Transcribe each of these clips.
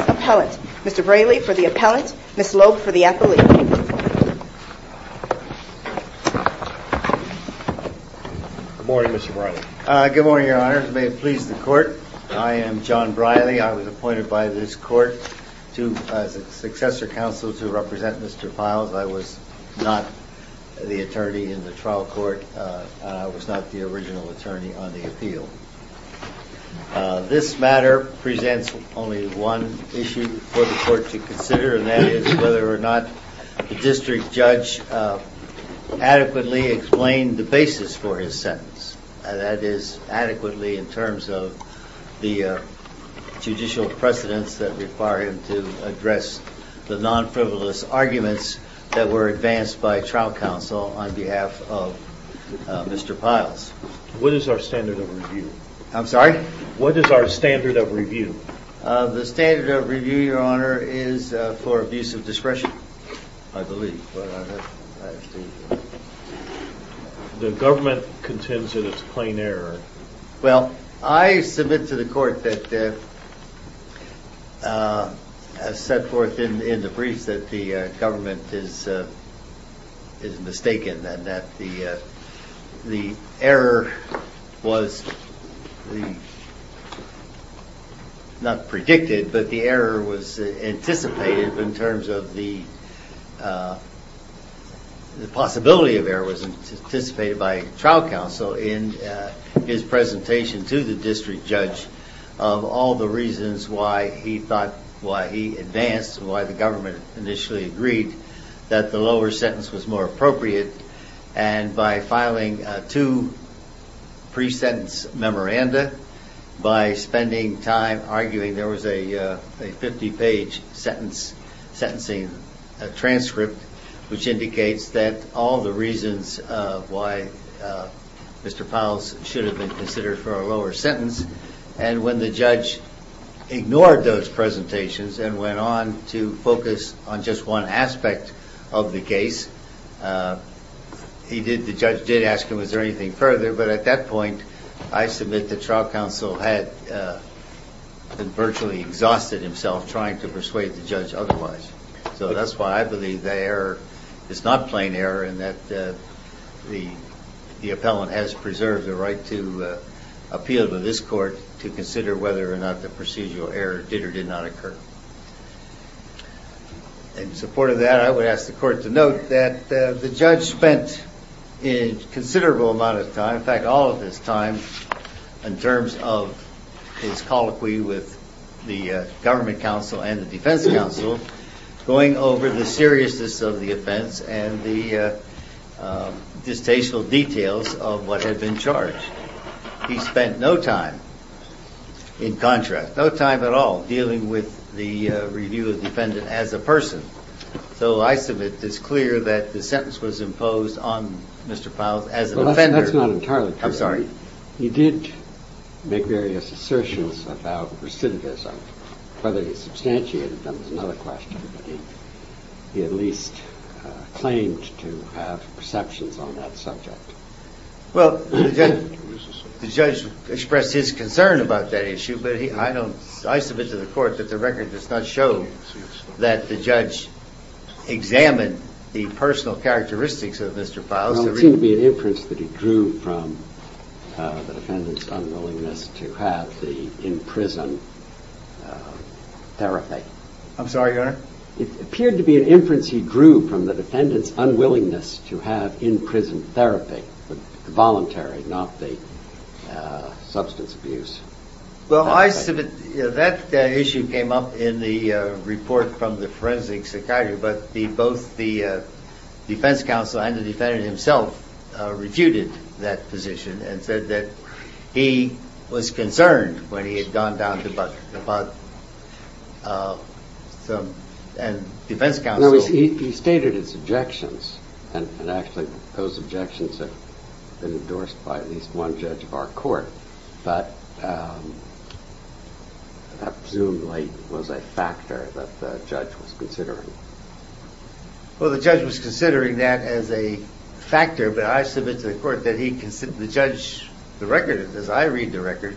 Appellant, Mr. Braley for the Appellant, Ms. Loeb for the Appellant. Good morning, Mr. Braley. Good morning, Your Honor. May it please the Court, I am John Braley. I was appointed by this Court to, as a successor counsel, to represent Mr. Pyles. I was not the attorney in the trial court. I was not the original attorney on the appeal. This matter presents only one issue for the Court to consider, and that is whether or not the district judge adequately explained the basis for his sentence. That is, adequately in terms of the judicial precedents that require him to address the non-frivolous arguments that were advanced by trial counsel on behalf of Mr. Pyles. What is our standard of review? I'm sorry? What is our standard of review? The standard of review, Your Honor, is for abuse of discretion, I believe. The government contends in its plain error. Well, I submit to the Court that, as set forth in the briefs, that the government is mistaken and that the error was, not predicted, but the error was anticipated in terms of the possibility of error was anticipated by trial counsel in his presentation to the district judge of all the reasons why he thought, why he advanced, why the government initially agreed that the lower sentence was more appropriate, and by filing two pre-sentence memoranda, by spending time arguing there was a 50-page sentencing transcript which indicates that all the reasons why Mr. Pyles should have been considered for a lower sentence, and when the judge ignored those presentations and went on to focus on just one aspect of the case, he did, the judge did ask him, is there anything further? But at that point, I submit that trial counsel had virtually exhausted himself trying to persuade the judge otherwise. So that's why I believe the error is not plain error and that the appellant has preserved the right to appeal to this Court to consider whether or not the procedural error did or did not occur. In support of that, I would ask the Court to note that the judge spent a considerable amount of time, in fact all of his time, in terms of his colloquy with the government counsel and the defense counsel, going over the seriousness of the what had been charged. He spent no time, in contrast, no time at all dealing with the review of the defendant as a person. So I submit it's clear that the sentence was imposed on Mr. Pyles as an offender. Well, that's not entirely true. I'm sorry. He did make various assertions about recidivism. Whether he substantiated them is another question, but he at least claimed to have perceptions on that subject. Well, the judge expressed his concern about that issue, but I submit to the Court that the record does not show that the judge examined the personal characteristics of Mr. Pyles. There seemed to be an inference that he drew from the defendant's unwillingness to have the in-prison therapy. I'm sorry, Your Honor? It appeared to be an inference he drew from the defendant's unwillingness to have in-prison therapy, voluntary, not the substance abuse. Well, I submit that issue came up in the report from the Forensic Psychiatry, but both the defense counsel and the defendant himself refuted that position and said that he was concerned when he had gone down to Bud and defense counsel. He stated his objections, and actually those objections have been endorsed by at least one judge of our court, but that presumably was a factor that the judge was considering. Well, the judge was considering that as a factor, but I submit to the Court that the judge, the record, as I read the record,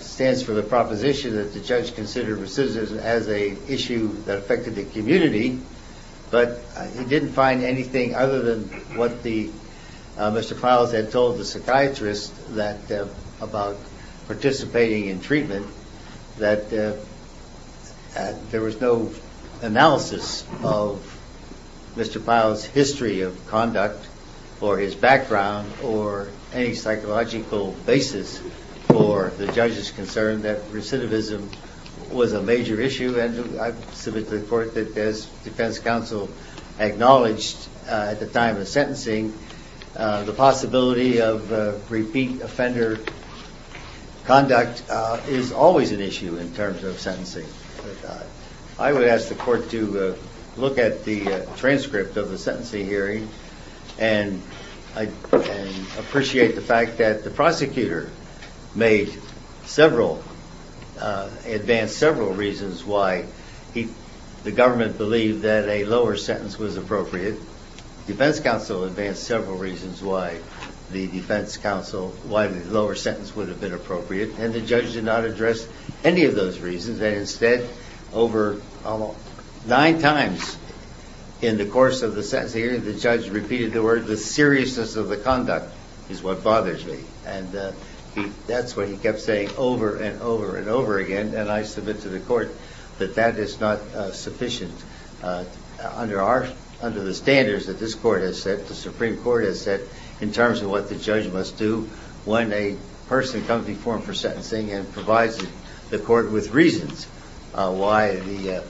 stands for the proposition that the judge considered recidivism as an issue that affected the community, but he didn't find anything other than what Mr. Pyles had told the psychiatrist about participating in treatment, that there was no analysis of Mr. Pyles' history of conduct or his background or any psychological basis for the judge's concern that recidivism was a major issue, and I submit to the Court that as defense counsel acknowledged at the time of sentencing, the possibility of repeat offender conduct is always an issue in terms of sentencing. I would ask the Court to look at the transcript of the sentencing hearing and appreciate the fact that the prosecutor made several, advanced several reasons why the government believed that a lower sentence was appropriate, defense counsel advanced several reasons why the defense counsel, why the lower sentence would have been appropriate, and the judge did not address any of those reasons and instead, over nine times in the course of the sentencing hearing, the judge repeated the word, the seriousness of the conduct is what bothers me, and that's what he kept saying over and over and over again, and I submit to the Court that that is not sufficient under the standards that this Court has set, the Supreme Court has set, in terms of what the judge must do when a person comes before him for sentencing and provides the Court with reasons. Here's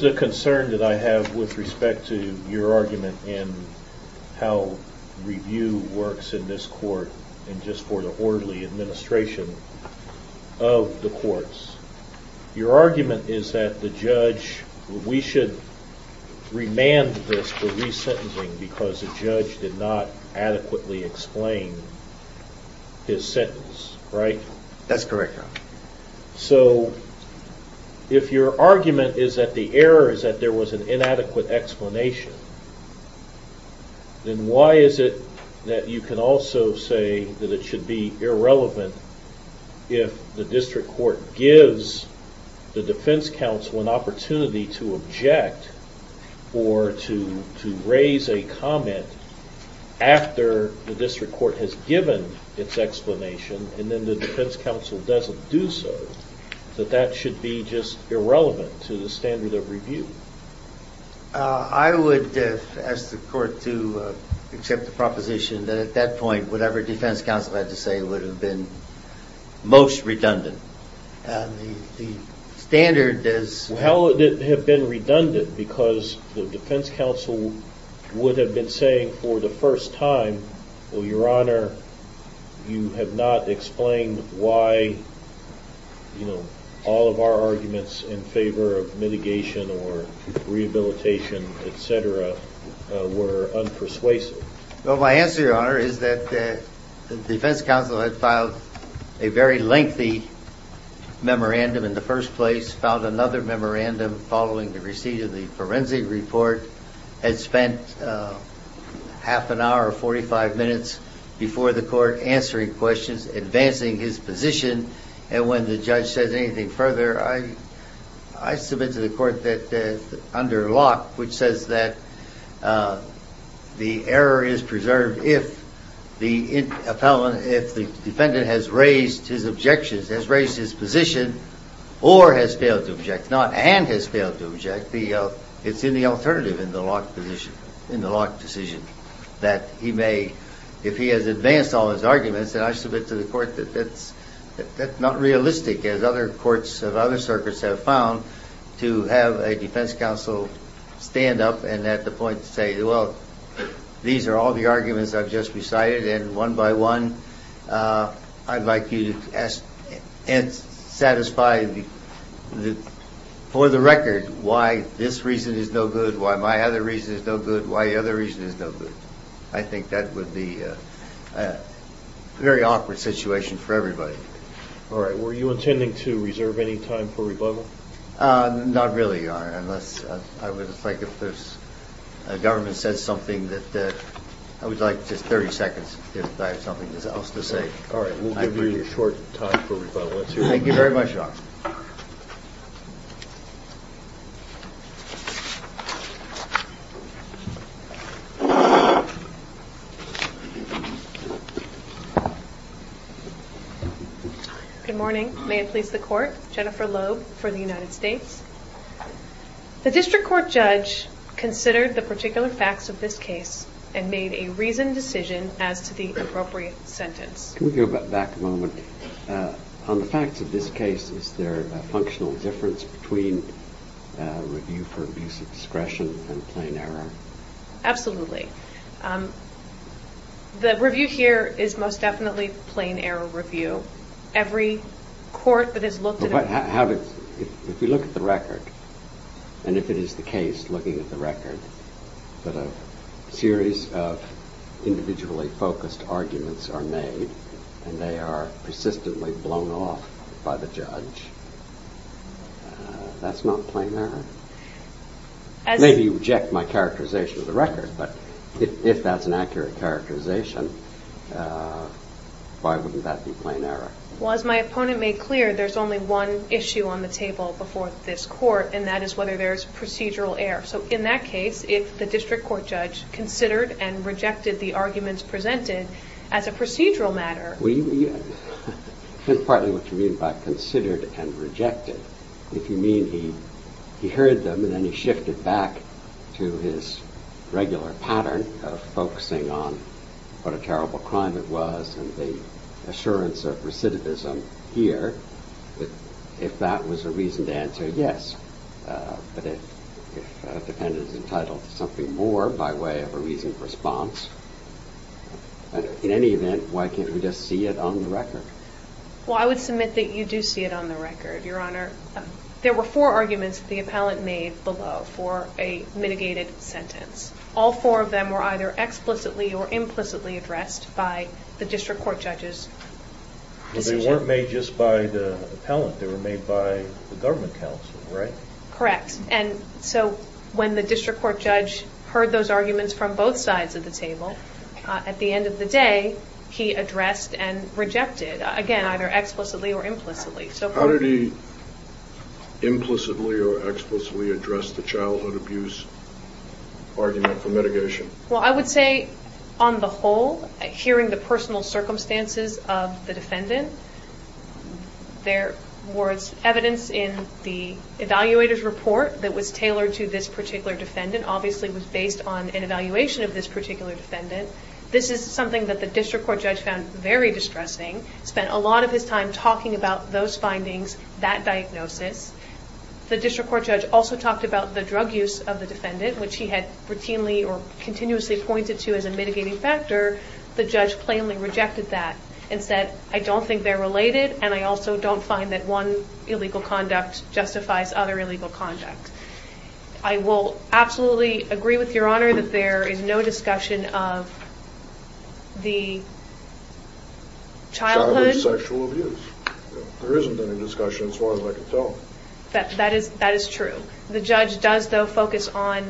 the concern that I have with respect to your argument in how review works in this Court and just for the orderly administration of the courts. Your argument is that the judge, we should remand this for resentencing because the judge did not adequately explain his sentence, right? That's correct, Your Honor. So if your argument is that the error is that there was an inadequate explanation, then why is it that you can also say that it should be irrelevant if the district court gives the defense counsel an opportunity to object or to raise a comment after the district court has given its explanation and then the defense counsel doesn't do so, that that should be just irrelevant to the standard of review? I would ask the Court to accept the proposition that at that point, whatever defense counsel had to say would have been most redundant. How would it have been redundant because the defense counsel would have been saying for the first time, well, Your Honor, you have not explained why, you know, all of our arguments in favor of mitigation or rehabilitation, et cetera, were unpersuasive? Well, my answer, Your Honor, is that the defense counsel had filed a very lengthy memorandum in the first place, filed another memorandum following the receipt of the forensic report, and spent half an hour or 45 minutes before the Court answering questions, advancing his position, and when the judge says anything further, I submit to the Court that under Locke, which says that the error is preserved if the defendant has raised his objections, has raised his position or has failed to object, not and has failed to object, it's in the alternative in the Locke decision that he may, if he has advanced all his arguments, then I submit to the Court that that's not realistic, as other courts of other circuits have found, to have a defense counsel stand up and at the point say, well, these are all the arguments I've just recited, and one by one, I'd like you to satisfy for the record why this reason is no good, why my other reason is no good, why the other reason is no good. I think that would be a very awkward situation for everybody. All right, were you intending to reserve any time for rebuttal? Not really, Your Honor, unless, I would like if the government said something that, I would like just 30 seconds if I have something else to say. All right, we'll give you a short time for rebuttal. Good morning, may it please the Court, Jennifer Loeb for the United States. The District Court judge considered the particular facts of this case and made a reasoned decision as to the appropriate sentence. Can we go back a moment? On the facts of this case, is there a functional difference between review for abuse of discretion and plain error? Absolutely. The review here is most definitely plain error review. Every court that has looked at it... But how did, if you look at the record, and if it is the case, looking at the record, that a series of individually focused arguments are made, and they are persistently blown off by the judge, that's not plain error? Maybe you reject my characterization of the record, but if that's an accurate characterization, why wouldn't that be plain error? Well, as my opponent made clear, there's only one issue on the table before this Court, and that is whether there's procedural error. So in that case, if the District Court judge considered and rejected the arguments presented as a procedural matter... Partly what you mean by considered and rejected, if you mean he heard them and then he shifted back to his regular pattern of focusing on what a terrible crime it was and the assurance of recidivism here, if that was a reason to answer, yes. But if a defendant is entitled to something more by way of a reasoned response, in any event, why can't we just see it on the record? Well, I would submit that you do see it on the record, Your Honor. There were four arguments that the appellant made below for a mitigated sentence. All four of them were either explicitly or implicitly addressed by the District Court judge's decision. But they weren't made just by the appellant. They were made by the government counsel, right? Correct. And so when the District Court judge heard those arguments from both sides of the table, at the end of the day, he addressed and rejected, again, either explicitly or implicitly. How did he implicitly or explicitly address the childhood abuse argument for mitigation? Well, I would say, on the whole, hearing the personal circumstances of the defendant, there was evidence in the evaluator's report that was tailored to this particular defendant, obviously was based on an evaluation of this particular defendant. This is something that the District Court judge found very distressing, spent a lot of his time talking about those findings, that diagnosis. The District Court judge also talked about the drug use of the defendant, which he had routinely or continuously pointed to as a mitigating factor. The judge plainly rejected that and said, I don't think they're related and I also don't find that one illegal conduct justifies other illegal conduct. I will absolutely agree with Your Honor that there is no discussion of the childhood. Childhood sexual abuse. There isn't any discussion as far as I can tell. That is true. The judge does, though, focus on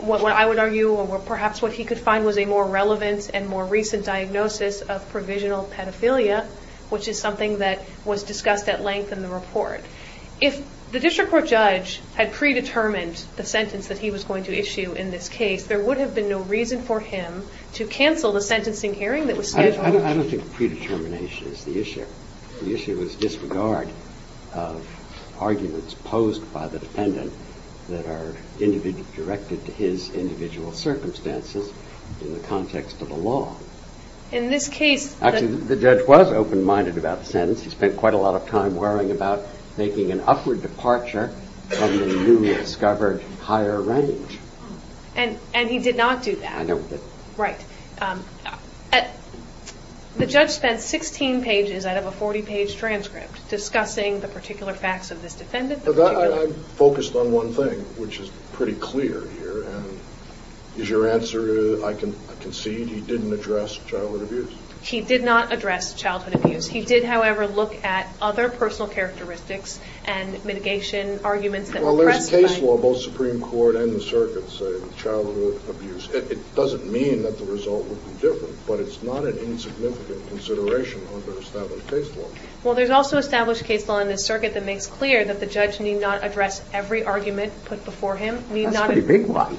what I would argue or perhaps what he could find was a more relevant and more recent diagnosis of provisional pedophilia, which is something that was discussed at length in the report. If the District Court judge had predetermined the sentence that he was going to issue in this case, there would have been no reason for him to cancel the sentencing hearing that was scheduled. I don't think predetermination is the issue. The issue is disregard of arguments posed by the defendant that are directed to his individual circumstances in the context of the law. In this case... Actually, the judge was open-minded about the sentence. He spent quite a lot of time worrying about making an upward departure from the newly discovered higher range. And he did not do that. I don't think... Right. The judge spent 16 pages out of a 40-page transcript discussing the particular facts of this defendant. I focused on one thing, which is pretty clear here. Is your answer I concede? He didn't address childhood abuse. He did not address childhood abuse. He did, however, look at other personal characteristics and mitigation arguments that were pressed by... Well, there's case law, both Supreme Court and the circuit, say childhood abuse. It doesn't mean that the result would be different, but it's not an insignificant consideration under established case law. Well, there's also established case law in the circuit that makes clear that the judge need not address every argument put before him. That's pretty big one.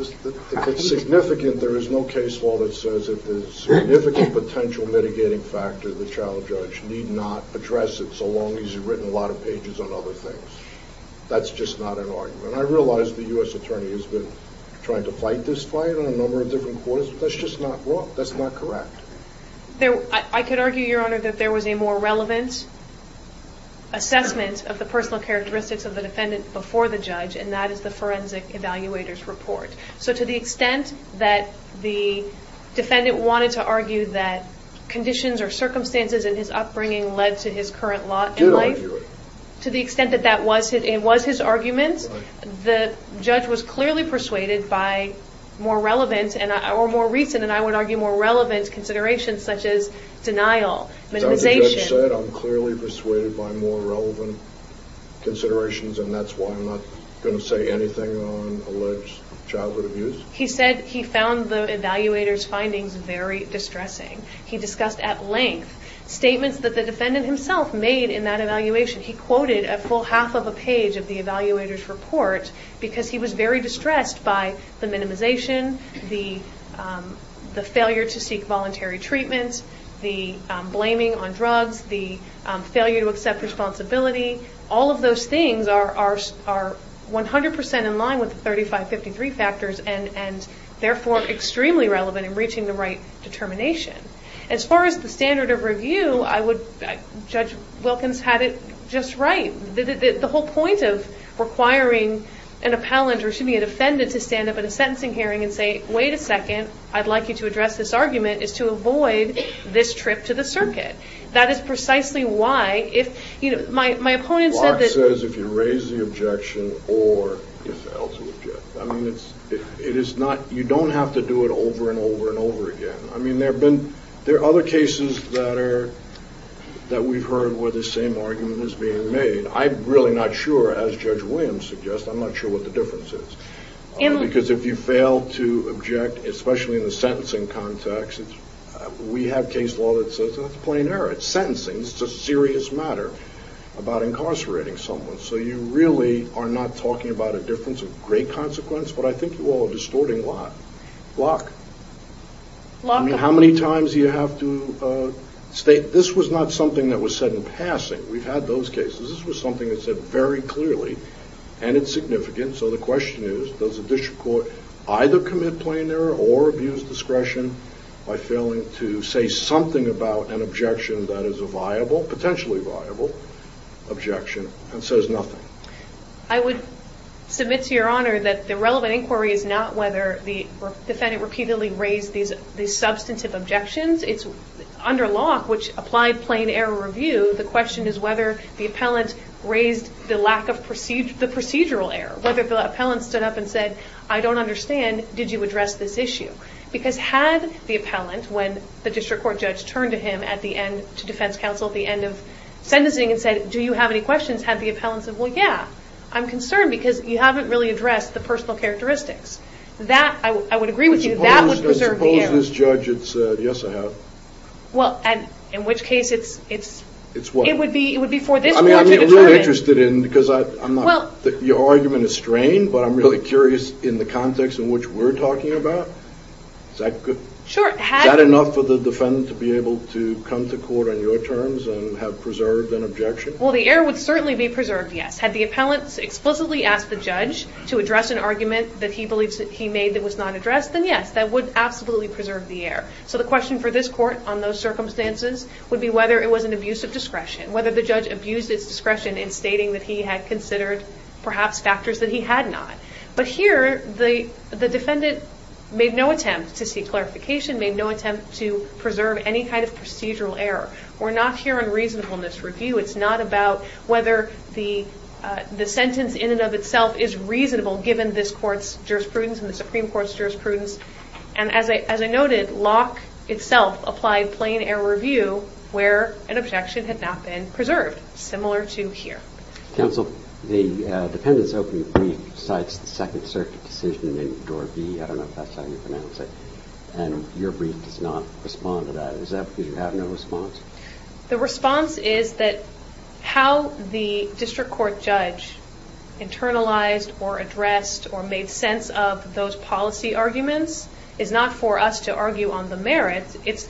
If it's significant, there is no case law that says that the significant potential mitigating factor, the child judge, need not address it so long as you've written a lot of pages on other things. That's just not an argument. I realize the U.S. attorney has been trying to fight this fight on a number of different courts, but that's just not wrong. That's not correct. I could argue, Your Honor, that there was a more relevant assessment of the personal characteristics of the defendant before the judge, and that is the forensic evaluator's report. So to the extent that the defendant wanted to argue that conditions or circumstances in his upbringing led to his current life... Did argue it. To the extent that that was his argument, the judge was clearly persuaded by more relevant or more recent, and I would argue more relevant, considerations such as denial, minimization. As the judge said, I'm clearly persuaded by more relevant considerations, and that's why I'm not going to say anything on alleged childhood abuse. He said he found the evaluator's findings very distressing. He discussed at length statements that the defendant himself made in that evaluation. He quoted a full half of a page of the evaluator's report, because he was very distressed by the minimization, the failure to seek voluntary treatment, the blaming on drugs, the failure to accept responsibility. All of those things are 100% in line with the 3553 factors, and therefore extremely relevant in reaching the right determination. As far as the standard of review, Judge Wilkins had it just right. The whole point of requiring an appellant or, excuse me, a defendant to stand up at a sentencing hearing and say, wait a second, I'd like you to address this argument, is to avoid this trip to the circuit. That is precisely why if, you know, my opponent said that- Clark says if you raise the objection or you fail to object. I mean, it is not, you don't have to do it over and over and over again. I mean, there have been, there are other cases that are, that we've heard where the same argument is being made. I'm really not sure, as Judge Williams suggests, I'm not sure what the difference is. Because if you fail to object, especially in the sentencing context, we have case law that says that's a plain error. At sentencing, it's a serious matter about incarcerating someone. So you really are not talking about a difference of great consequence. But I think you all are distorting Locke. I mean, how many times do you have to state, this was not something that was said in passing. We've had those cases. This was something that was said very clearly, and it's significant. So the question is, does a district court either commit plain error or abuse discretion by failing to say something about an objection that is a viable, potentially viable, objection, and says nothing? I would submit to Your Honor that the relevant inquiry is not whether the defendant repeatedly raised these substantive objections. Under Locke, which applied plain error review, the question is whether the appellant raised the lack of procedural error. Whether the appellant stood up and said, I don't understand, did you address this issue? Because had the appellant, when the district court judge turned to him at the end, to defense counsel at the end of sentencing, and said, do you have any questions, had the appellant said, well, yeah, I'm concerned, because you haven't really addressed the personal characteristics. That, I would agree with you, that would preserve the air. Suppose this judge had said, yes, I have. Well, in which case, it would be for this court to determine. I'm really interested in, because your argument is strained, but I'm really curious in the context in which we're talking about. Is that good? Sure. Is that enough for the defendant to be able to come to court on your terms and have preserved an objection? Well, the air would certainly be preserved, yes. Had the appellant explicitly asked the judge to address an argument that he believes he made that was not addressed, then yes, that would absolutely preserve the air. So the question for this court on those circumstances would be whether it was an abuse of discretion. Whether the judge abused its discretion in stating that he had considered perhaps factors that he had not. But here, the defendant made no attempt to seek clarification, made no attempt to preserve any kind of procedural error. We're not here on reasonableness review. It's not about whether the sentence in and of itself is reasonable, given this court's jurisprudence and the Supreme Court's jurisprudence. And as I noted, Locke itself applied plain error review where an objection had not been preserved, similar to here. Counsel, the defendant's opening brief cites the Second Circuit decision in Door B. I don't know if that's how you pronounce it. And your brief does not respond to that. Is that because you have no response? The response is that how the district court judge internalized or addressed or made sense of those policy arguments is not for us to argue on the merits. It's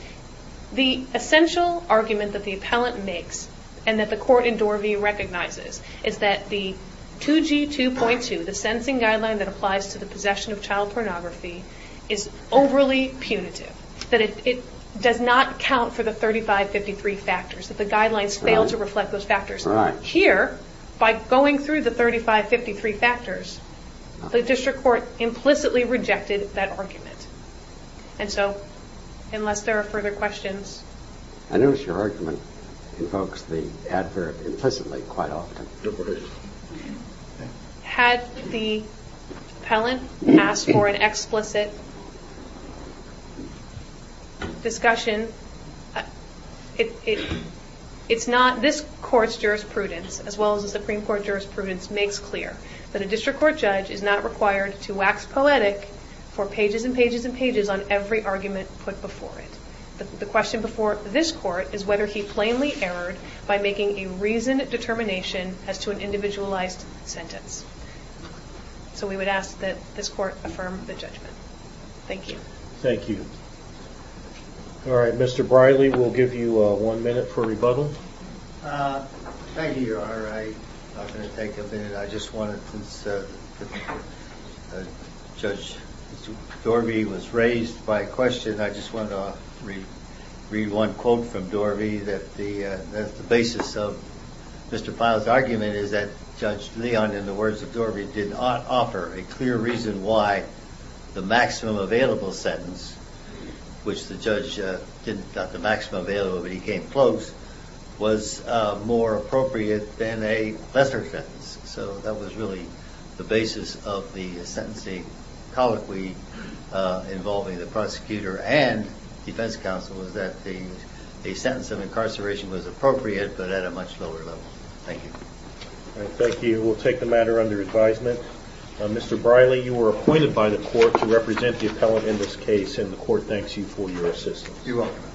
the essential argument that the appellant makes and that the court in Door B recognizes is that the 2G2.2, the sentencing guideline that applies to the possession of child pornography, is overly punitive. That it does not count for the 3553 factors, that the guidelines fail to reflect those factors. Here, by going through the 3553 factors, the district court implicitly rejected that argument. And so, unless there are further questions. I notice your argument invokes the adverb implicitly quite often. Had the appellant asked for an explicit discussion, it's not this court's jurisprudence, as well as the Supreme Court jurisprudence, makes clear that a district court judge is not required to wax poetic for pages and pages and pages on every argument put before it. The question before this court is whether he plainly erred by making a reasoned determination as to an individualized sentence. So we would ask that this court affirm the judgment. Thank you. Thank you. Alright, Mr. Briley, we'll give you one minute for rebuttal. Thank you, Your Honor. I'm not going to take a minute. I just want to, since Judge Dorby was raised by question, I just want to read one quote from Dorby, that the basis of Mr. Pyle's argument is that Judge Leon, in the words of Dorby, did not offer a clear reason why the maximum available sentence, which the judge didn't got the maximum available, but he came close, was more appropriate than a lesser sentence. So that was really the basis of the sentencing colloquy involving the prosecutor and defense counsel, was that a sentence of incarceration was appropriate, but at a much lower level. Thank you. Thank you. We'll take the matter under advisement. Mr. Briley, you were appointed by the court to represent the appellant in this case, and the court thanks you for your assistance. You're welcome.